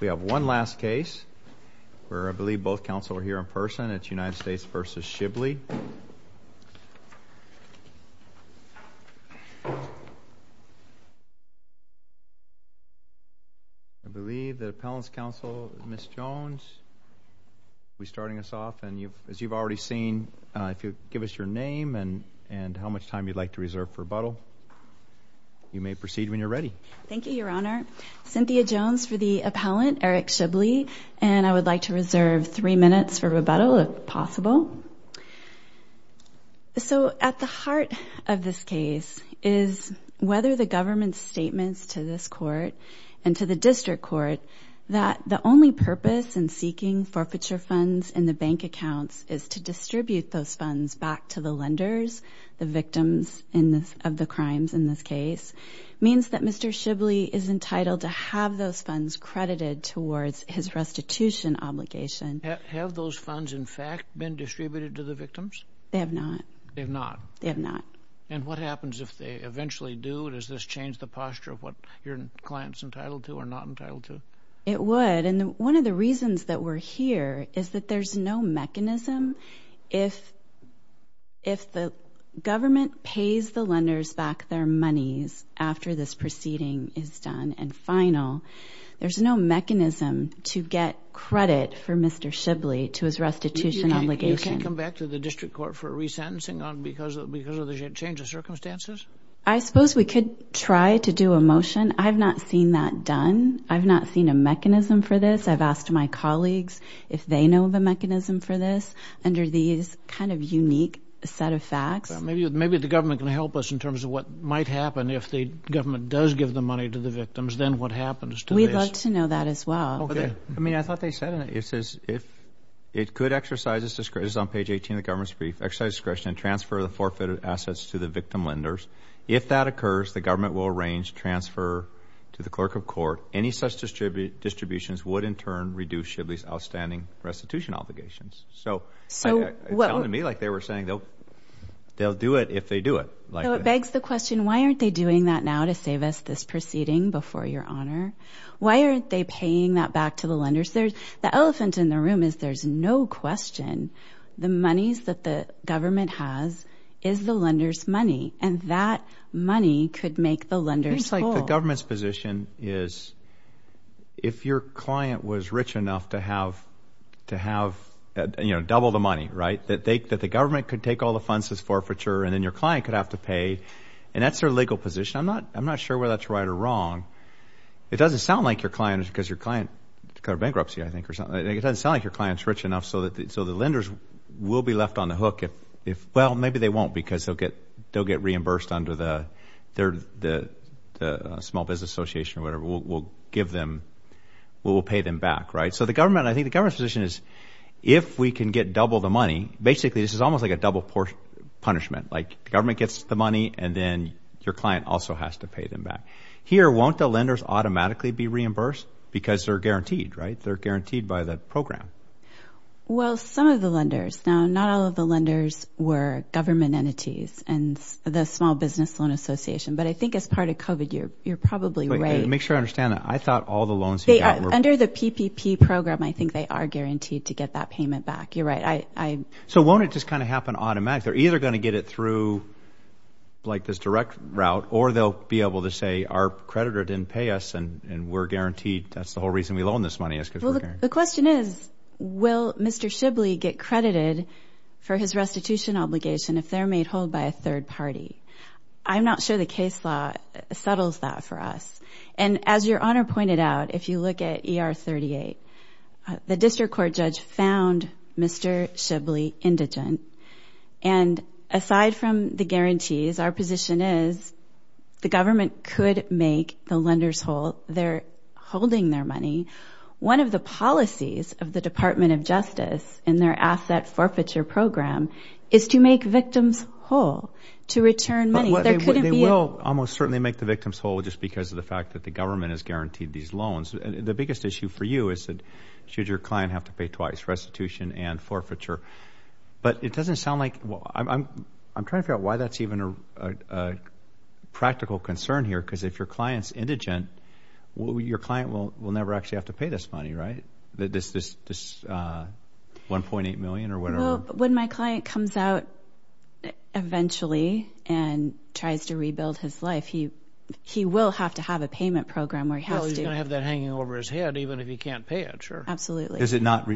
We have one last case where I believe both counsel are here in person. It's United States v. Shibley. I believe the appellant's counsel, Ms. Jones, will be starting us off. And as you've already seen, if you'd give us your name and how much time you'd like to reserve for rebuttal, you may proceed when you're ready. Thank you, Your Honor. Cynthia Jones for the appellant, Eric Shibley, and I would like to reserve three minutes for rebuttal if possible. So at the heart of this case is whether the government's statements to this court and to the district court that the only purpose in seeking forfeiture funds in the bank accounts is to distribute those funds back to the lenders, the victims of the crimes in this case, means that Mr. Shibley is entitled to have those funds credited towards his restitution obligation. Have those funds, in fact, been distributed to the victims? They have not. They have not. They have not. And what happens if they eventually do? Does this change the posture of what your client's entitled to or not entitled to? It would. And one of the reasons that we're here is that there's no mechanism. If the government pays the lenders back their monies after this proceeding is done and final, there's no mechanism to get credit for Mr. Shibley to his restitution obligation. You can come back to the district court for resentencing because of the change of circumstances? I suppose we could try to do a motion. I've not seen that done. I've not seen a mechanism for this. I've asked my colleagues if they know of a mechanism for this under these kind of unique set of facts. Maybe the government can help us in terms of what might happen if the government does give the money to the victims, then what happens to this? We'd love to know that as well. I mean, I thought they said it. It says if it could exercise its discretion, it's on page 18 of the government's brief, exercise discretion and transfer the forfeited assets to the victim lenders. If that occurs, the government will arrange transfer to the clerk of court. Any such distributions would in turn reduce Shibley's outstanding restitution obligations. So it sounded to me like they were saying they'll do it if they do it. So it begs the question, why aren't they doing that now to save us this proceeding before your honor? Why aren't they paying that back to the lenders? The elephant in the room is there's no question the monies that the government has is the lenders' money, and that money could make the lenders full. It seems like the government's position is if your client was rich enough to have, you know, double the money, right, that the government could take all the funds as forfeiture and then your client could have to pay, and that's their legal position. I'm not sure whether that's right or wrong. It doesn't sound like your client is because your client declared bankruptcy, I think, or something. It doesn't sound like your client is rich enough so the lenders will be left on the hook if, well, maybe they won't because they'll get reimbursed under the small business association or whatever. We'll pay them back, right? So I think the government's position is if we can get double the money, basically this is almost like a double punishment, like the government gets the money and then your client also has to pay them back. Here, won't the lenders automatically be reimbursed because they're guaranteed, right? Well, some of the lenders. Now, not all of the lenders were government entities and the small business loan association, but I think as part of COVID, you're probably right. Make sure I understand that. I thought all the loans you got were. Under the PPP program, I think they are guaranteed to get that payment back. You're right. So won't it just kind of happen automatically? They're either going to get it through, like, this direct route, or they'll be able to say our creditor didn't pay us and we're guaranteed. That's the whole reason we loan this money is because we're guaranteed. The question is, will Mr. Shibley get credited for his restitution obligation if they're made whole by a third party? I'm not sure the case law settles that for us. And as Your Honor pointed out, if you look at ER 38, the district court judge found Mr. Shibley indigent. And aside from the guarantees, our position is the government could make the lenders whole. They're holding their money. One of the policies of the Department of Justice in their asset forfeiture program is to make victims whole to return money. They will almost certainly make the victims whole just because of the fact that the government has guaranteed these loans. The biggest issue for you is should your client have to pay twice, restitution and forfeiture. But it doesn't sound like – I'm trying to figure out why that's even a practical concern here because if your client's indigent, your client will never actually have to pay this money, right? This $1.8 million or whatever? Well, when my client comes out eventually and tries to rebuild his life, he will have to have a payment program where he has to. Oh, he's going to have that hanging over his head even if he can't pay it, sure. Absolutely. Is it not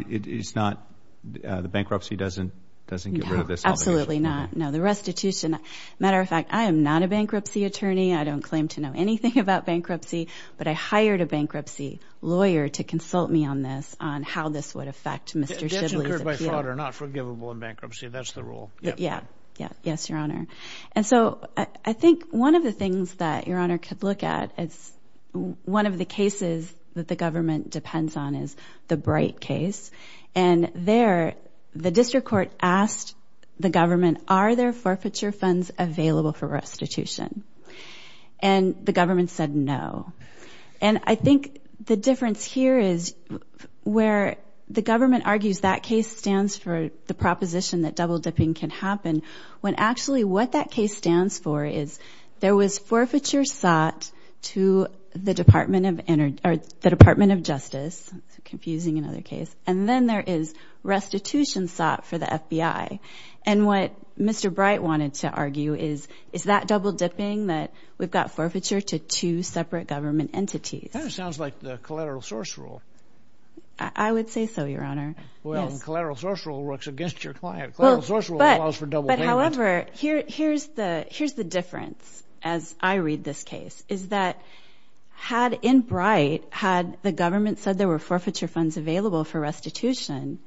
– the bankruptcy doesn't get rid of this obligation? No, absolutely not. No, the restitution – matter of fact, I am not a bankruptcy attorney. I don't claim to know anything about bankruptcy, but I hired a bankruptcy lawyer to consult me on this, on how this would affect Mr. Shibley's appeal. That's incurred by father, not forgivable in bankruptcy. That's the rule. Yeah, yes, Your Honor. And so I think one of the things that Your Honor could look at is one of the cases that the government depends on is the Bright case. And there the district court asked the government, are there forfeiture funds available for restitution? And the government said no. And I think the difference here is where the government argues that case stands for the proposition that double-dipping can happen when actually what that case stands for is there was forfeiture sought to the Department of Justice – confusing another case – and then there is restitution sought for the FBI. And what Mr. Bright wanted to argue is, is that double-dipping that we've got forfeiture to two separate government entities? That sounds like the collateral source rule. I would say so, Your Honor. Well, collateral source rule works against your client. Collateral source rule allows for double payment. However, here's the difference as I read this case, is that had in Bright had the government said there were forfeiture funds available for restitution,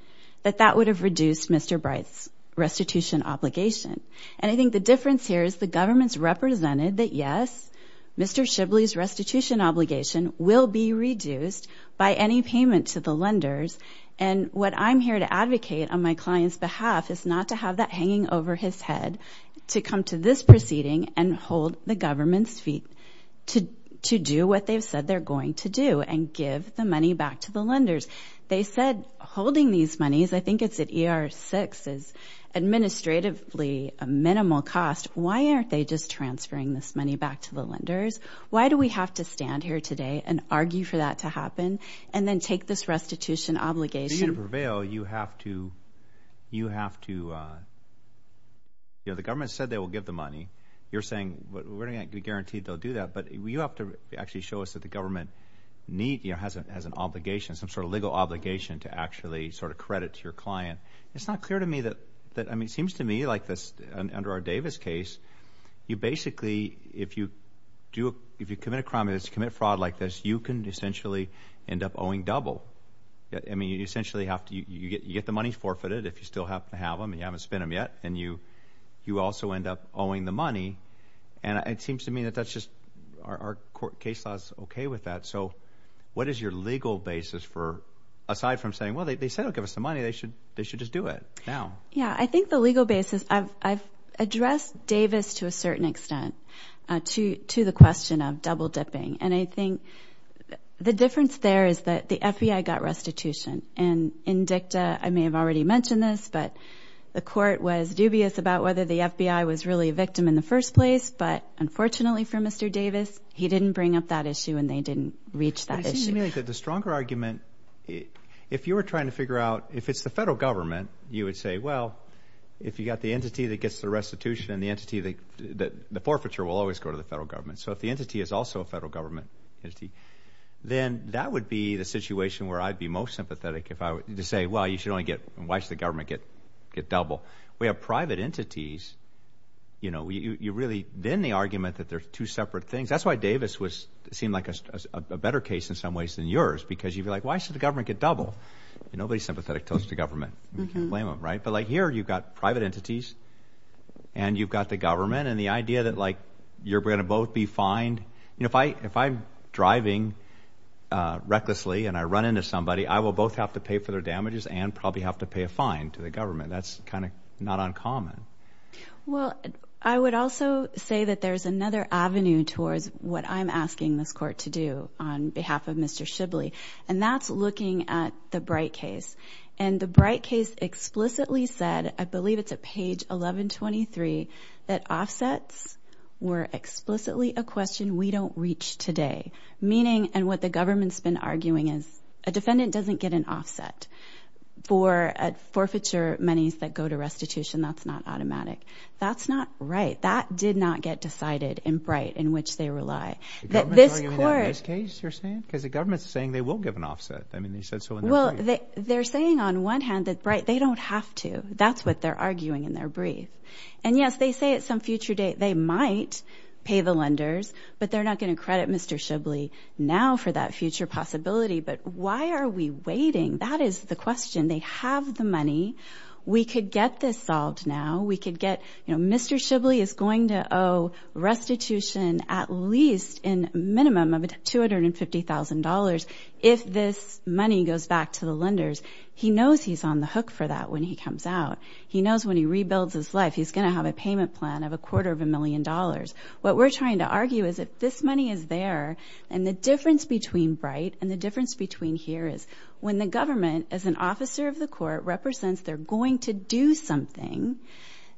that that would have reduced Mr. Bright's restitution obligation. And I think the difference here is the government's represented that, yes, Mr. Shibley's restitution obligation will be reduced by any payment to the lenders. And what I'm here to advocate on my client's behalf is not to have that hanging over his head, to come to this proceeding and hold the government's feet to do what they've said they're going to do and give the money back to the lenders. They said holding these monies – I think it's at ER-6 – is administratively a minimal cost. Why aren't they just transferring this money back to the lenders? Why do we have to stand here today and argue for that to happen and then take this restitution obligation? For you to prevail, you have to – the government said they will give the money. You're saying we're not going to guarantee they'll do that, but you have to actually show us that the government has an obligation, some sort of legal obligation to actually sort of credit to your client. It's not clear to me that – I mean, it seems to me like under our Davis case, you basically – if you commit a crime, if you commit fraud like this, you can essentially end up owing double. I mean, you essentially have to – you get the money forfeited if you still happen to have them and you haven't spent them yet, and you also end up owing the money. And it seems to me that that's just – our case law is okay with that. So what is your legal basis for – aside from saying, well, they said they'll give us the money. They should just do it now. Yeah, I think the legal basis – I've addressed Davis to a certain extent to the question of double-dipping. And I think the difference there is that the FBI got restitution. And in DICTA – I may have already mentioned this, but the court was dubious about whether the FBI was really a victim in the first place. But unfortunately for Mr. Davis, he didn't bring up that issue and they didn't reach that issue. It seems to me that the stronger argument – if you were trying to figure out – if it's the federal government, you would say, well, if you've got the entity that gets the restitution and the entity that – the forfeiture will always go to the federal government. So if the entity is also a federal government entity, then that would be the situation where I'd be most sympathetic to say, well, you should only get – why should the government get double? We have private entities. You really – then the argument that they're two separate things – that's why Davis seemed like a better case in some ways than yours because you'd be like, why should the government get double? Nobody's sympathetic until it's the government. You can't blame them, right? But here you've got private entities and you've got the government. And the idea that like you're going to both be fined – if I'm driving recklessly and I run into somebody, I will both have to pay for their damages and probably have to pay a fine to the government. That's kind of not uncommon. Well, I would also say that there's another avenue towards what I'm asking this court to do on behalf of Mr. Shibley, and that's looking at the Bright case. And the Bright case explicitly said – I believe it's at page 1123 – that offsets were explicitly a question we don't reach today, meaning – and what the government's been arguing is a defendant doesn't get an offset for forfeiture monies that go to restitution. That's not automatic. That's not right. That did not get decided in Bright, in which they rely. The government's arguing that in this case, you're saying? Because the government's saying they will give an offset. Well, they're saying on one hand that Bright – they don't have to. That's what they're arguing in their brief. And, yes, they say at some future date they might pay the lenders, but they're not going to credit Mr. Shibley now for that future possibility. But why are we waiting? That is the question. They have the money. We could get this solved now. We could get – you know, Mr. Shibley is going to owe restitution at least in minimum of $250,000 if this money goes back to the lenders. He knows he's on the hook for that when he comes out. He knows when he rebuilds his life he's going to have a payment plan of a quarter of a million dollars. What we're trying to argue is if this money is there, and the difference between Bright and the difference between here is when the government, as an officer of the court, represents they're going to do something,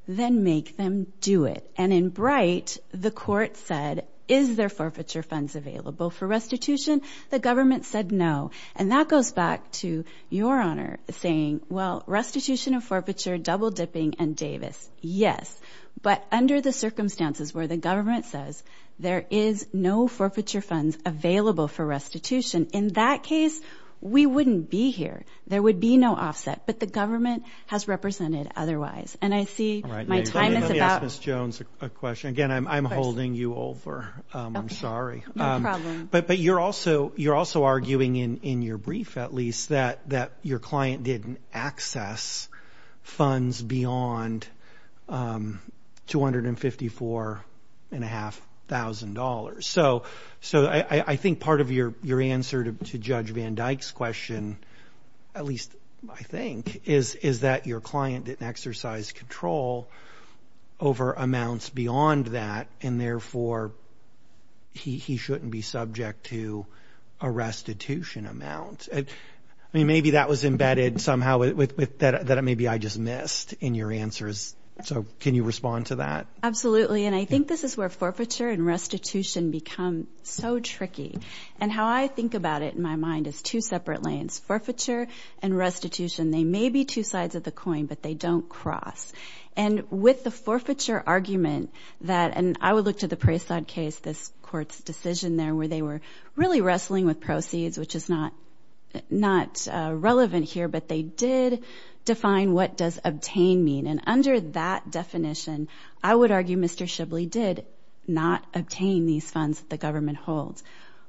then make them do it. And in Bright, the court said, is there forfeiture funds available for restitution? The government said no. And that goes back to Your Honor saying, well, restitution of forfeiture, double dipping, and Davis. Yes. But under the circumstances where the government says there is no forfeiture funds available for restitution, in that case we wouldn't be here. There would be no offset. But the government has represented otherwise. And I see my time is about – Let me ask Ms. Jones a question. Again, I'm holding you over. I'm sorry. No problem. But you're also arguing in your brief, at least, that your client didn't access funds beyond $254,500. So I think part of your answer to Judge Van Dyke's question, at least I think, is that your client didn't exercise control over amounts beyond that, and therefore he shouldn't be subject to a restitution amount. I mean, maybe that was embedded somehow that maybe I just missed in your answers. So can you respond to that? Absolutely. And I think this is where forfeiture and restitution become so tricky. And how I think about it in my mind is two separate lanes, forfeiture and restitution. They may be two sides of the coin, but they don't cross. And with the forfeiture argument that – and I would look to the Preysad case, this court's decision there, where they were really wrestling with proceeds, which is not relevant here, but they did define what does obtain mean. And under that definition, I would argue Mr. Shibley did not obtain these funds that the government holds.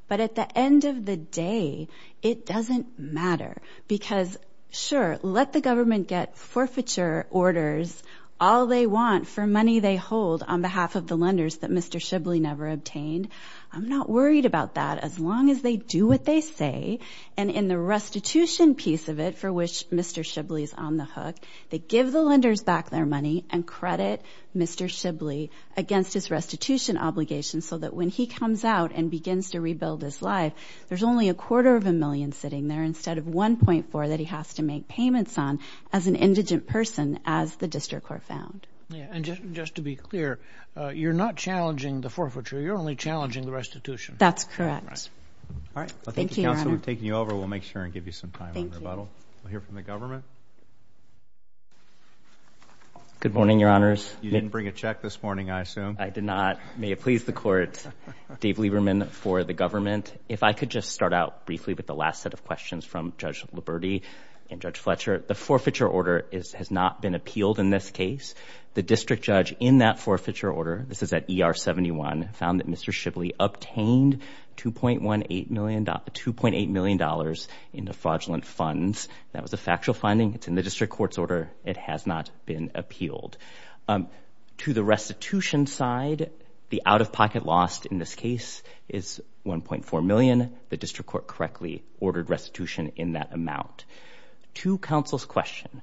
But at the end of the day, it doesn't matter because, sure, let the government get forfeiture orders all they want for money they hold on behalf of the lenders that Mr. Shibley never obtained. I'm not worried about that as long as they do what they say, and in the restitution piece of it for which Mr. Shibley is on the hook, they give the lenders back their money and credit Mr. Shibley against his restitution obligations so that when he comes out and begins to rebuild his life, there's only a quarter of a million sitting there instead of 1.4 that he has to make payments on as an indigent person, as the district court found. And just to be clear, you're not challenging the forfeiture. You're only challenging the restitution. That's correct. Thank you, Your Honor. Well, thank you, Counselor, for taking you over. We'll make sure and give you some time on rebuttal. Thank you. We'll hear from the government. Good morning, Your Honors. You didn't bring a check this morning, I assume. I did not. May it please the Court, Dave Lieberman for the government. If I could just start out briefly with the last set of questions from Judge Liberti and Judge Fletcher. The forfeiture order has not been appealed in this case. The district judge in that forfeiture order, this is at ER 71, found that Mr. Shibley obtained $2.8 million in defraudulent funds. That was a factual finding. It's in the district court's order. It has not been appealed. To the restitution side, the out-of-pocket loss in this case is $1.4 million. The district court correctly ordered restitution in that amount. To counsel's question,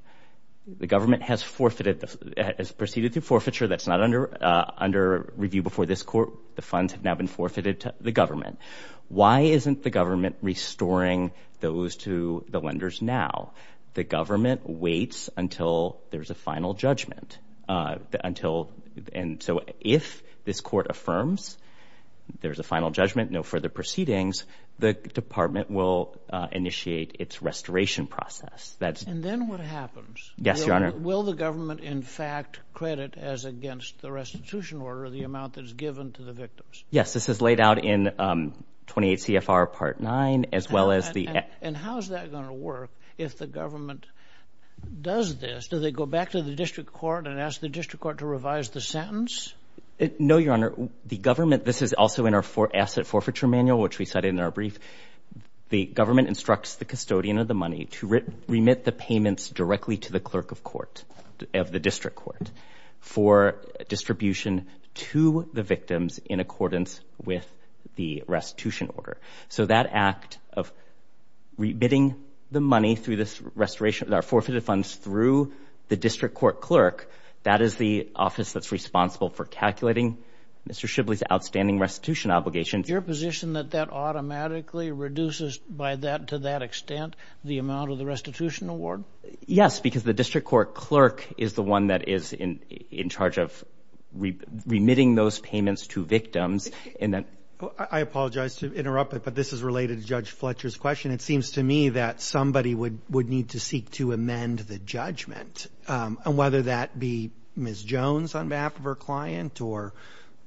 the government has proceeded through forfeiture that's not under review before this court. The funds have now been forfeited to the government. Why isn't the government restoring those to the lenders now? The government waits until there's a final judgment. If this court affirms there's a final judgment, no further proceedings, the department will initiate its restoration process. And then what happens? Yes, Your Honor. Will the government, in fact, credit as against the restitution order the amount that is given to the victims? Yes, this is laid out in 28 CFR Part 9. And how is that going to work if the government does this? Do they go back to the district court and ask the district court to revise the sentence? No, Your Honor. This is also in our asset forfeiture manual, which we cited in our brief. The government instructs the custodian of the money to remit the payments directly to the clerk of court, of the district court, for distribution to the victims in accordance with the restitution order. So that act of remitting the money through this restoration, our forfeited funds through the district court clerk, that is the office that's responsible for calculating Mr. Shibley's outstanding restitution obligation. Is your position that that automatically reduces by that, to that extent, the amount of the restitution award? Yes, because the district court clerk is the one that is in charge of remitting those payments to victims. I apologize to interrupt, but this is related to Judge Fletcher's question. It seems to me that somebody would need to seek to amend the judgment, whether that be Ms. Jones on behalf of her client or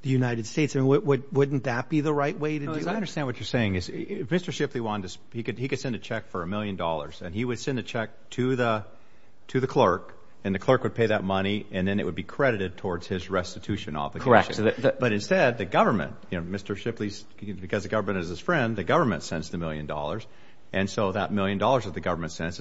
the United States. Wouldn't that be the right way to do it? I understand what you're saying. Mr. Shibley, he could send a check for a million dollars, and he would send a check to the clerk, and the clerk would pay that money, and then it would be credited towards his restitution obligation. Correct. But instead, the government, Mr. Shibley, because the government is his friend, the government sends the million dollars, and so that million dollars that the government sends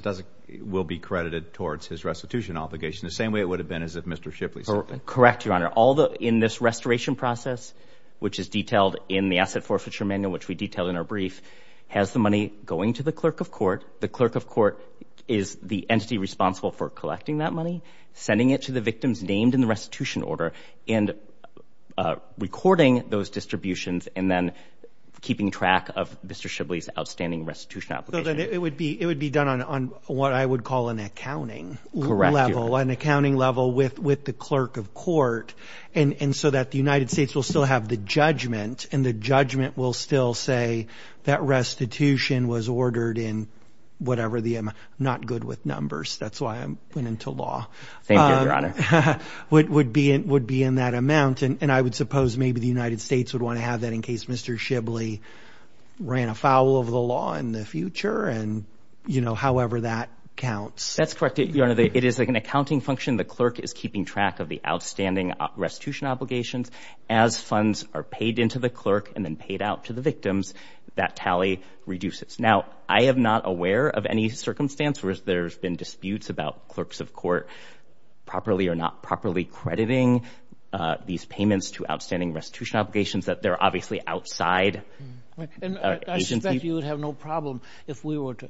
will be credited towards his restitution obligation the same way it would have been as if Mr. Shibley sent it. Correct, Your Honor. In this restoration process, which is detailed in the Asset Forfeiture Manual, which we detail in our brief, has the money going to the clerk of court. The clerk of court is the entity responsible for collecting that money, sending it to the victims named in the restitution order, and recording those distributions and then keeping track of Mr. Shibley's outstanding restitution obligation. So then it would be done on what I would call an accounting level. Correct. An accounting level with the clerk of court, and so that the United States will still have the judgment, and the judgment will still say that restitution was ordered in whatever the M. I'm not good with numbers. That's why I went into law. Thank you, Your Honor. Would be in that amount, and I would suppose maybe the United States would want to have that in case Mr. Shibley ran afoul of the law in the future, and, you know, however that counts. That's correct, Your Honor. It is like an accounting function. The clerk is keeping track of the outstanding restitution obligations. As funds are paid into the clerk and then paid out to the victims, that tally reduces. Now, I am not aware of any circumstance where there's been disputes about clerks of court properly or not properly crediting these payments to outstanding restitution obligations, that they're obviously outside. And I suspect you would have no problem if we were to,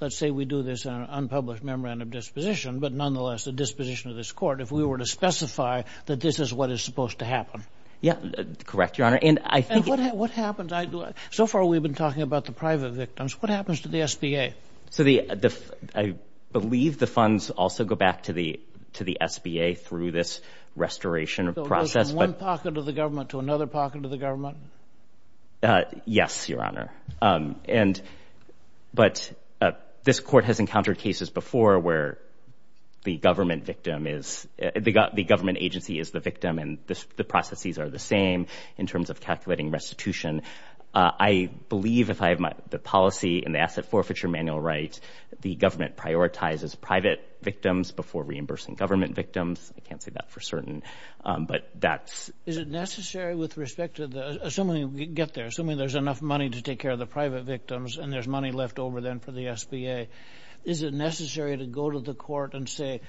let's say we do this in an unpublished memorandum disposition, but nonetheless the disposition of this court, if we were to specify that this is what is supposed to happen. Yeah, correct, Your Honor. And what happens? So far we've been talking about the private victims. What happens to the SBA? So I believe the funds also go back to the SBA through this restoration process. So it goes from one pocket of the government to another pocket of the government? Yes, Your Honor. But this court has encountered cases before where the government agency is the victim and the processes are the same in terms of calculating restitution. I believe if I have the policy in the asset forfeiture manual right, the government prioritizes private victims before reimbursing government victims. I can't say that for certain, but that's... Is it necessary with respect to the, assuming we get there, assuming there's enough money to take care of the private victims and there's money left over then for the SBA, is it necessary to go to the court and say,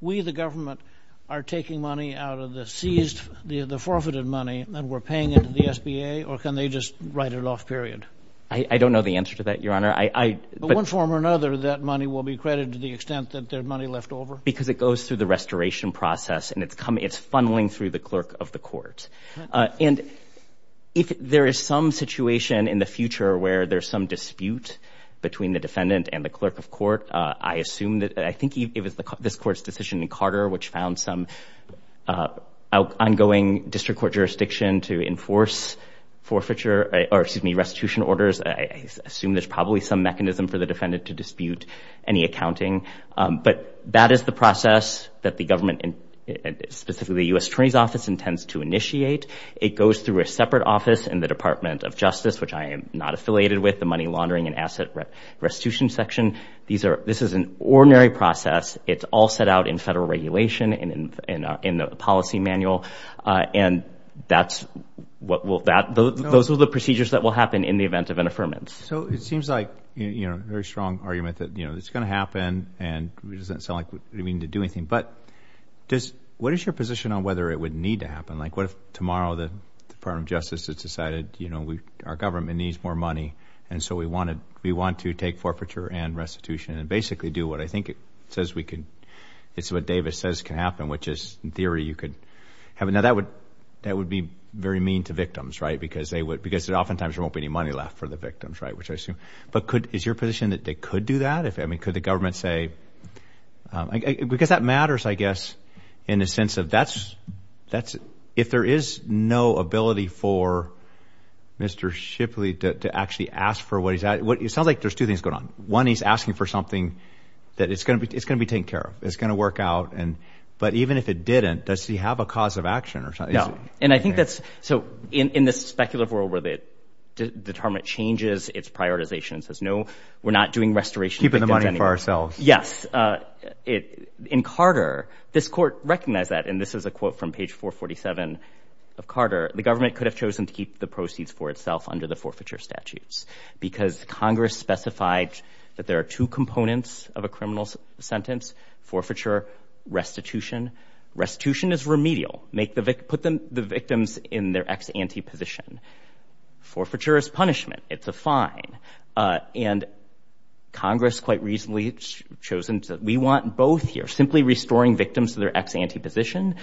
we, the government, are taking money out of the seized, the forfeited money and we're paying it to the SBA or can they just write it off, period? I don't know the answer to that, Your Honor. But one form or another, that money will be credited to the extent that there's money left over? Because it goes through the restoration process and it's funneling through the clerk of the court. And if there is some situation in the future where there's some dispute between the defendant and the clerk of court, I assume that, I think it was this court's decision in Carter which found some ongoing district court jurisdiction to enforce forfeiture, or excuse me, restitution orders. I assume there's probably some mechanism for the defendant to dispute any accounting. But that is the process that the government, specifically the U.S. Attorney's Office intends to initiate. It goes through a separate office in the Department of Justice, which I am not affiliated with, the Money Laundering and Asset Restitution Section. This is an ordinary process. It's all set out in federal regulation and in the policy manual. And those are the procedures that will happen in the event of an affirmance. So it seems like a very strong argument that it's going to happen and it doesn't sound like we need to do anything. But what is your position on whether it would need to happen? Like what if tomorrow the Department of Justice has decided our government needs more money and so we want to take forfeiture and restitution and basically do what I think it says we can, it's what Davis says can happen, which is in theory you could have it. Now, that would be very mean to victims, right, because oftentimes there won't be any money left for the victims, right, which I assume. But is your position that they could do that? I mean, could the government say? Because that matters, I guess, in the sense of that's, if there is no ability for Mr. Shipley to actually ask for what he's asking, it sounds like there's two things going on. One, he's asking for something that it's going to be taken care of, it's going to work out. But even if it didn't, does he have a cause of action or something? Yeah, and I think that's, so in this speculative world where the department changes its prioritization and says, no, we're not doing restoration victims anymore. Keeping the money for ourselves. Yes. In Carter, this court recognized that, and this is a quote from page 447 of Carter, the government could have chosen to keep the proceeds for itself under the forfeiture statutes because Congress specified that there are two components of a criminal sentence, forfeiture, restitution. Restitution is remedial. Put the victims in their ex-ante position. Forfeiture is punishment. It's a fine. And Congress quite reasonably has chosen to, we want both here. Simply restoring victims to their ex-ante position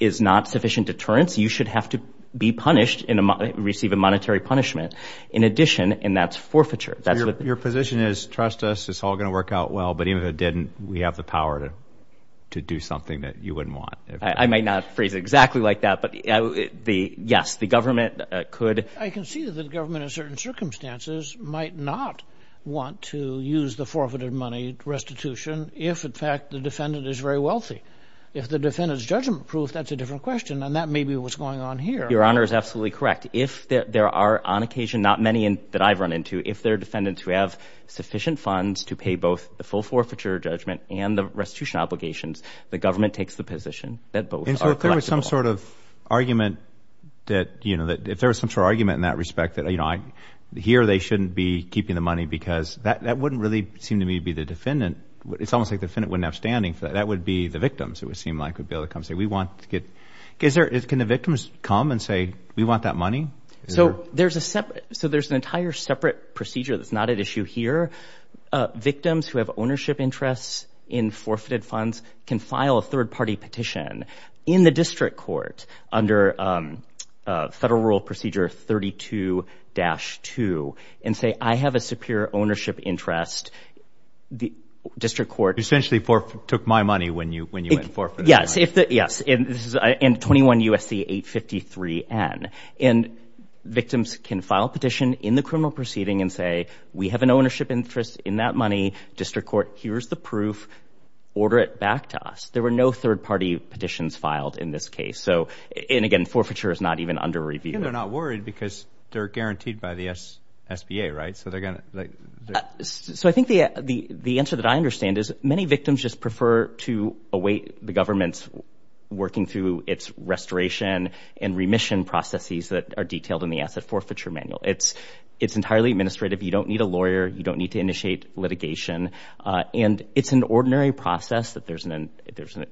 is not sufficient deterrence. You should have to be punished and receive a monetary punishment. In addition, and that's forfeiture. Your position is, trust us, it's all going to work out well, but even if it didn't, we have the power to do something that you wouldn't want. I might not phrase it exactly like that, but yes, the government could. I can see that the government in certain circumstances might not want to use the forfeited money restitution if, in fact, the defendant is very wealthy. If the defendant is judgment-proof, that's a different question, and that may be what's going on here. Your Honor is absolutely correct. If there are on occasion, not many that I've run into, if there are defendants who have sufficient funds to pay both the full forfeiture judgment and the restitution obligations, the government takes the position that both are collectible. And so if there was some sort of argument that, you know, if there was some sort of argument in that respect that, you know, here they shouldn't be keeping the money because that wouldn't really seem to me to be the defendant. It's almost like the defendant wouldn't have standing for that. That would be the victims, it would seem like, would be able to come and say, we want to get. Can the victims come and say, we want that money? So there's a separate, so there's an entire separate procedure that's not at issue here. Victims who have ownership interests in forfeited funds can file a third-party petition in the district court under Federal Rule Procedure 32-2 and say, I have a superior ownership interest. The district court. Essentially took my money when you went forfeited. Yes. Yes. And 21 U.S.C. 853-N. And victims can file a petition in the criminal proceeding and say, we have an ownership interest in that money. District court, here's the proof. Order it back to us. There were no third-party petitions filed in this case. So, and again, forfeiture is not even under review. And they're not worried because they're guaranteed by the SBA, right? So they're going to. So I think the answer that I understand is, many victims just prefer to await the government's working through its restoration and remission processes that are detailed in the asset forfeiture manual. It's entirely administrative. You don't need a lawyer. You don't need to initiate litigation. And it's an ordinary process that there's an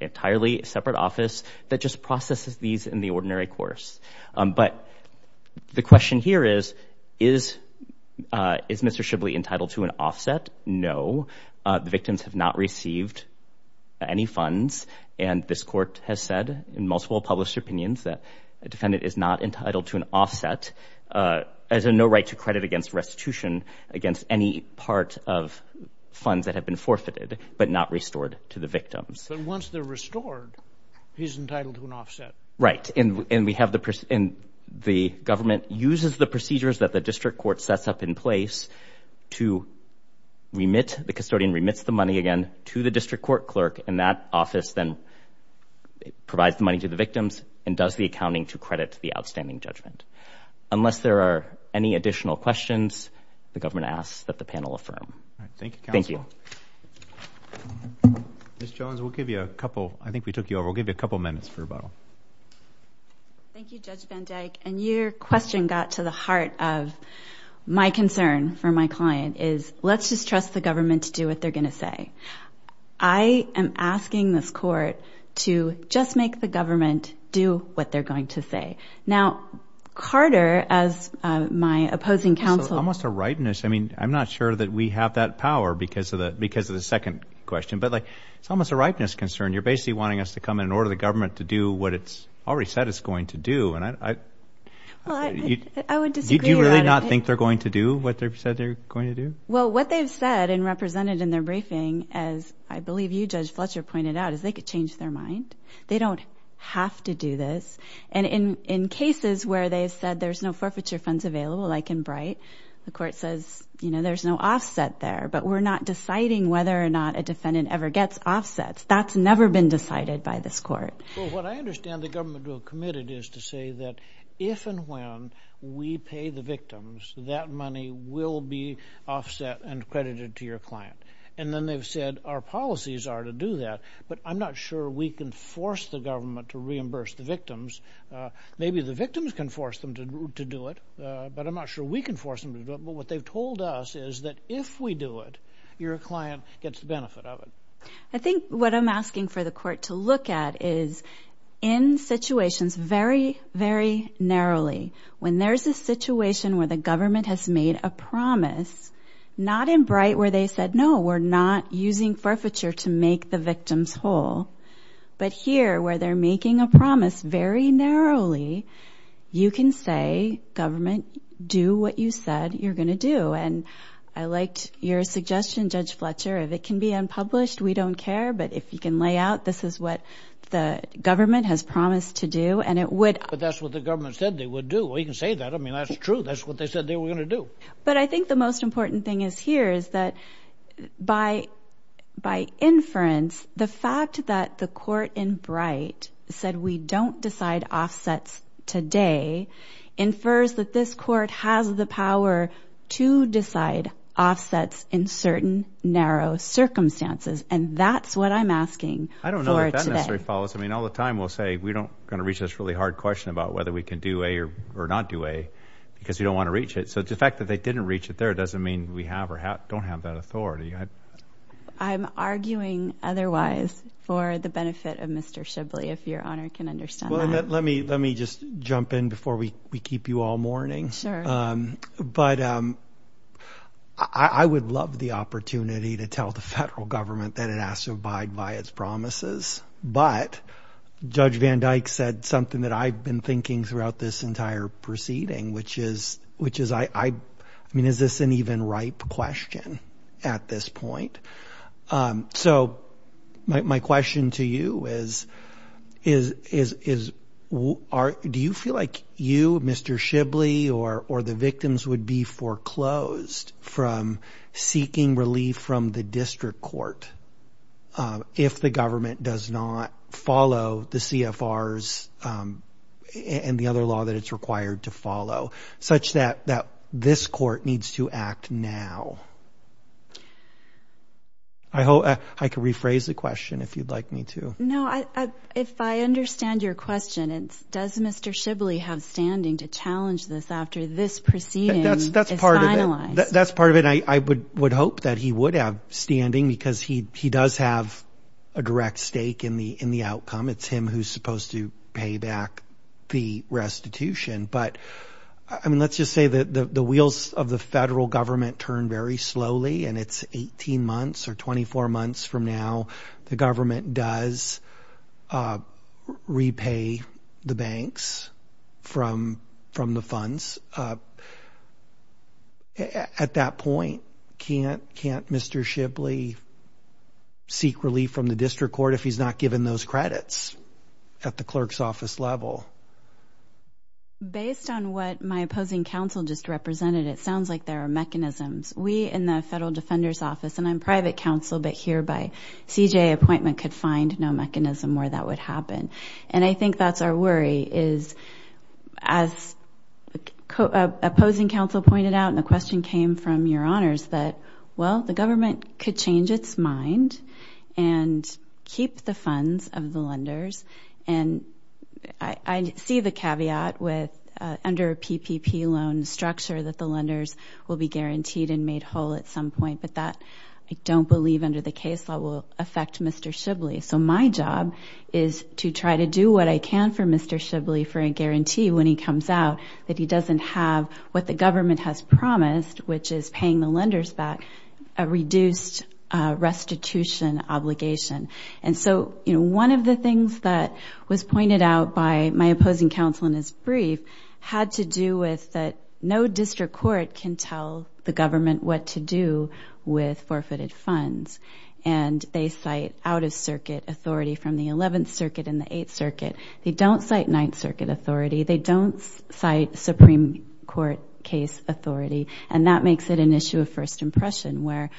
entirely separate office that just processes these in the ordinary course. But the question here is, is Mr. Shibley entitled to an offset? No. The victims have not received any funds. And this court has said in multiple published opinions that a defendant is not entitled to an offset. There's no right to credit against restitution against any part of funds that have been forfeited, but not restored to the victims. So once they're restored, he's entitled to an offset. Right. And the government uses the procedures that the district court sets up in place to remit. The custodian remits the money again to the district court clerk, and that office then provides the money to the victims and does the accounting to credit the outstanding judgment. Unless there are any additional questions, the government asks that the panel affirm. Thank you, counsel. Ms. Jones, we'll give you a couple. I think we took you over. We'll give you a couple minutes for rebuttal. Thank you, Judge Van Dyke. And your question got to the heart of my concern for my client is, let's just trust the government to do what they're going to say. I am asking this court to just make the government do what they're going to say. Now, Carter, as my opposing counsel. It's almost a ripeness. I mean, I'm not sure that we have that power because of the second question, but it's almost a ripeness concern. You're basically wanting us to come in and order the government to do what it's already said it's going to do. I would disagree. Do you really not think they're going to do what they've said they're going to do? Well, what they've said and represented in their briefing, as I believe you, Judge Fletcher, pointed out, is they could change their mind. They don't have to do this. And in cases where they've said there's no forfeiture funds available, like in Bright, the court says, you know, there's no offset there, but we're not deciding whether or not a defendant ever gets offsets. That's never been decided by this court. Well, what I understand the government will have committed is to say that if and when we pay the victims, that money will be offset and credited to your client. And then they've said our policies are to do that, but I'm not sure we can force the government to reimburse the victims. Maybe the victims can force them to do it, but I'm not sure we can force them to do it. But what they've told us is that if we do it, your client gets the benefit of it. I think what I'm asking for the court to look at is in situations very, very narrowly, when there's a situation where the government has made a promise, not in Bright where they said, no, we're not using forfeiture to make the victims whole, but here where they're making a promise very narrowly, you can say, government, do what you said you're going to do. And I liked your suggestion, Judge Fletcher. If it can be unpublished, we don't care. But if you can lay out this is what the government has promised to do and it would. But that's what the government said they would do. You can say that. I mean, that's true. That's what they said they were going to do. But I think the most important thing is here is that by inference, the fact that the court in Bright said we don't decide offsets today infers that this court has the power to decide offsets in certain narrow circumstances. And that's what I'm asking for today. I don't know if that necessarily follows. I mean, all the time we'll say we're not going to reach this really hard question about whether we can do A or not do A because we don't want to reach it. So the fact that they didn't reach it there doesn't mean we have or don't have that authority. I'm arguing otherwise for the benefit of Mr. Shibley, if Your Honor can understand that. Let me just jump in before we keep you all mourning. But I would love the opportunity to tell the federal government that it has to abide by its promises. But Judge Van Dyke said something that I've been thinking throughout this entire proceeding, which is I mean, is this an even ripe question at this point? So my question to you is do you feel like you, Mr. Shibley, or the victims would be foreclosed from seeking relief from the district court if the government does not follow the CFRs and the other law that it's required to follow, such that this court needs to act now? I can rephrase the question if you'd like me to. No, if I understand your question, does Mr. Shibley have standing to challenge this after this proceeding is finalized? That's part of it. I would hope that he would have standing because he does have a direct stake in the outcome. It's him who's supposed to pay back the restitution. But I mean, let's just say that the wheels of the federal government turn very slowly and it's 18 months or 24 months from now the government does repay the banks from the funds. At that point, can't Mr. Shibley seek relief from the district court if he's not given those credits at the clerk's office level? Based on what my opposing counsel just represented, it sounds like there are mechanisms. We in the Federal Defender's Office, and I'm private counsel, but here by CJA appointment could find no mechanism where that would happen. And I think that's our worry is as opposing counsel pointed out, and the question came from your honors, that, well, the government could change its mind and keep the funds of the lenders. And I see the caveat with under a PPP loan structure that the lenders will be guaranteed and made whole at some point, but that I don't believe under the case law will affect Mr. Shibley. So my job is to try to do what I can for Mr. Shibley for a guarantee when he comes out that he doesn't have what the government has promised, which is paying the lenders back, a reduced restitution obligation. And so one of the things that was pointed out by my opposing counsel in his brief had to do with that no district court can tell the government what to do with forfeited funds. And they cite out-of-circuit authority from the 11th Circuit and the 8th Circuit. They don't cite 9th Circuit authority. They don't cite Supreme Court case authority. And that makes it an issue of first impression where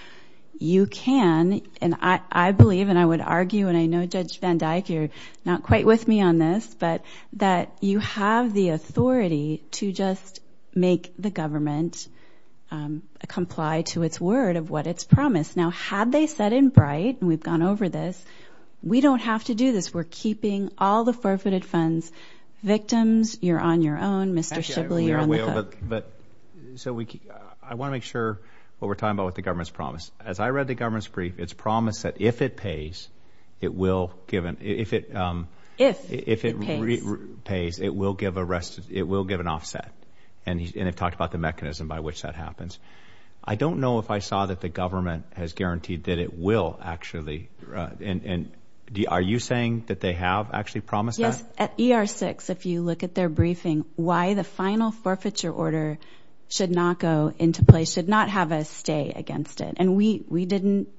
you can, and I believe and I would argue, and I know Judge Van Dyck, you're not quite with me on this, but that you have the authority to just make the government comply to its word of what it's promised. Now, had they said in Bright, and we've gone over this, we don't have to do this. We're keeping all the forfeited funds. Victims, you're on your own. Mr. Shibley, you're on the hook. I want to make sure what we're talking about with the government's promise. As I read the government's brief, it's promised that if it pays, it will give an offset. And they've talked about the mechanism by which that happens. I don't know if I saw that the government has guaranteed that it will actually. Are you saying that they have actually promised that? Yes, at ER-6, if you look at their briefing, why the final forfeiture order should not go into place, should not have a stay against it, and we didn't.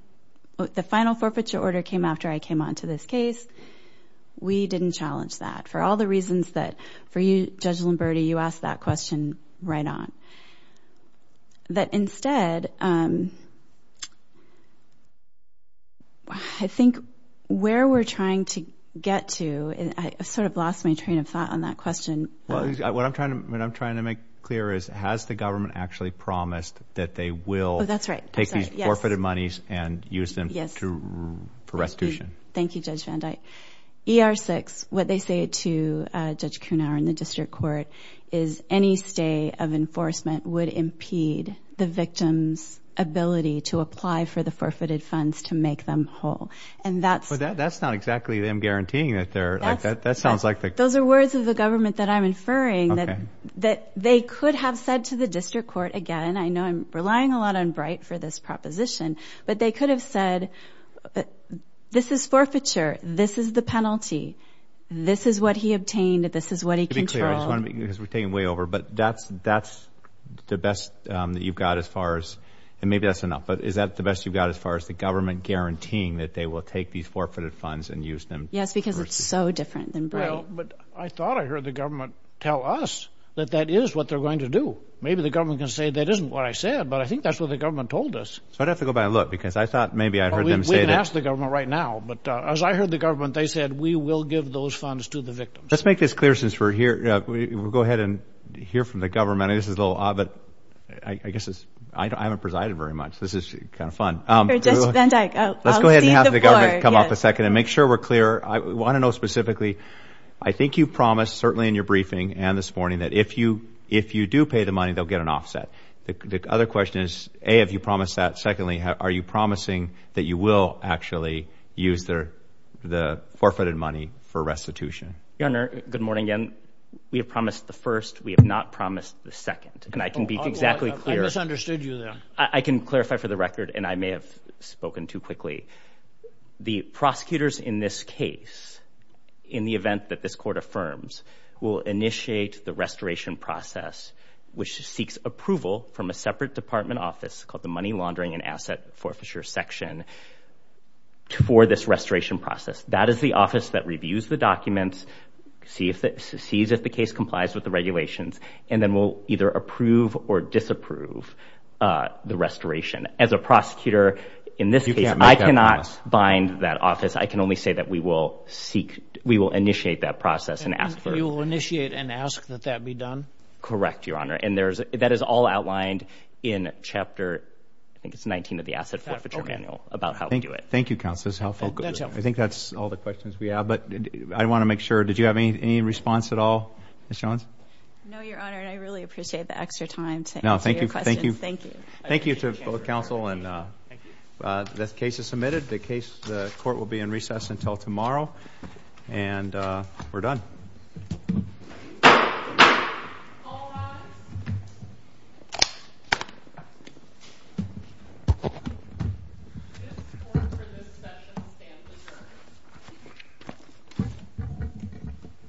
The final forfeiture order came after I came onto this case. We didn't challenge that for all the reasons that for you, Judge Lombardi, you asked that question right on. But instead, I think where we're trying to get to, I sort of lost my train of thought on that question. What I'm trying to make clear is, has the government actually promised that they will take these forfeited monies and use them for restitution? Thank you, Judge Van Dyke. ER-6, what they say to Judge Kuhnauer in the district court is any stay of enforcement would impede the victim's ability to apply for the forfeited funds to make them whole. But that's not exactly them guaranteeing that they're like that. Those are words of the government that I'm inferring that they could have said to the district court again. I know I'm relying a lot on Bright for this proposition. But they could have said, this is forfeiture. This is the penalty. This is what he obtained. This is what he controlled. To be clear, because we're taking way over, but that's the best that you've got as far as, and maybe that's enough, but is that the best you've got as far as the government guaranteeing that they will take these forfeited funds and use them? Yes, because it's so different than Bright. Well, but I thought I heard the government tell us that that is what they're going to do. Maybe the government can say that isn't what I said, but I think that's what the government told us. So I'd have to go back and look, because I thought maybe I heard them say that. Well, we can ask the government right now. But as I heard the government, they said we will give those funds to the victims. Let's make this clear since we're here. We'll go ahead and hear from the government. This is a little odd, but I guess I haven't presided very much. This is kind of fun. Let's go ahead and have the government come off a second and make sure we're clear. I want to know specifically, I think you promised, certainly in your briefing and this morning, that if you do pay the money, they'll get an offset. The other question is, A, have you promised that? Secondly, are you promising that you will actually use the forfeited money for restitution? Your Honor, good morning again. We have promised the first. We have not promised the second. And I can be exactly clear. I misunderstood you there. I can clarify for the record, and I may have spoken too quickly. The prosecutors in this case, in the event that this court affirms, will initiate the restoration process, which seeks approval from a separate department office called the Money Laundering and Asset Forfeiture Section for this restoration process. That is the office that reviews the documents, sees if the case complies with the regulations, and then will either approve or disapprove the restoration. As a prosecutor in this case, I cannot bind that office. I can only say that we will initiate that process and ask for it. You will initiate and ask that that be done? Correct, Your Honor. And that is all outlined in Chapter 19 of the Asset Forfeiture Manual about how we do it. Thank you, Counsel. That's helpful. I think that's all the questions we have, but I want to make sure. Did you have any response at all, Ms. Jones? No, Your Honor, and I really appreciate the extra time to answer your questions. Thank you. Thank you to both counsel, and the case is submitted. The court will be in recess until tomorrow, and we're done.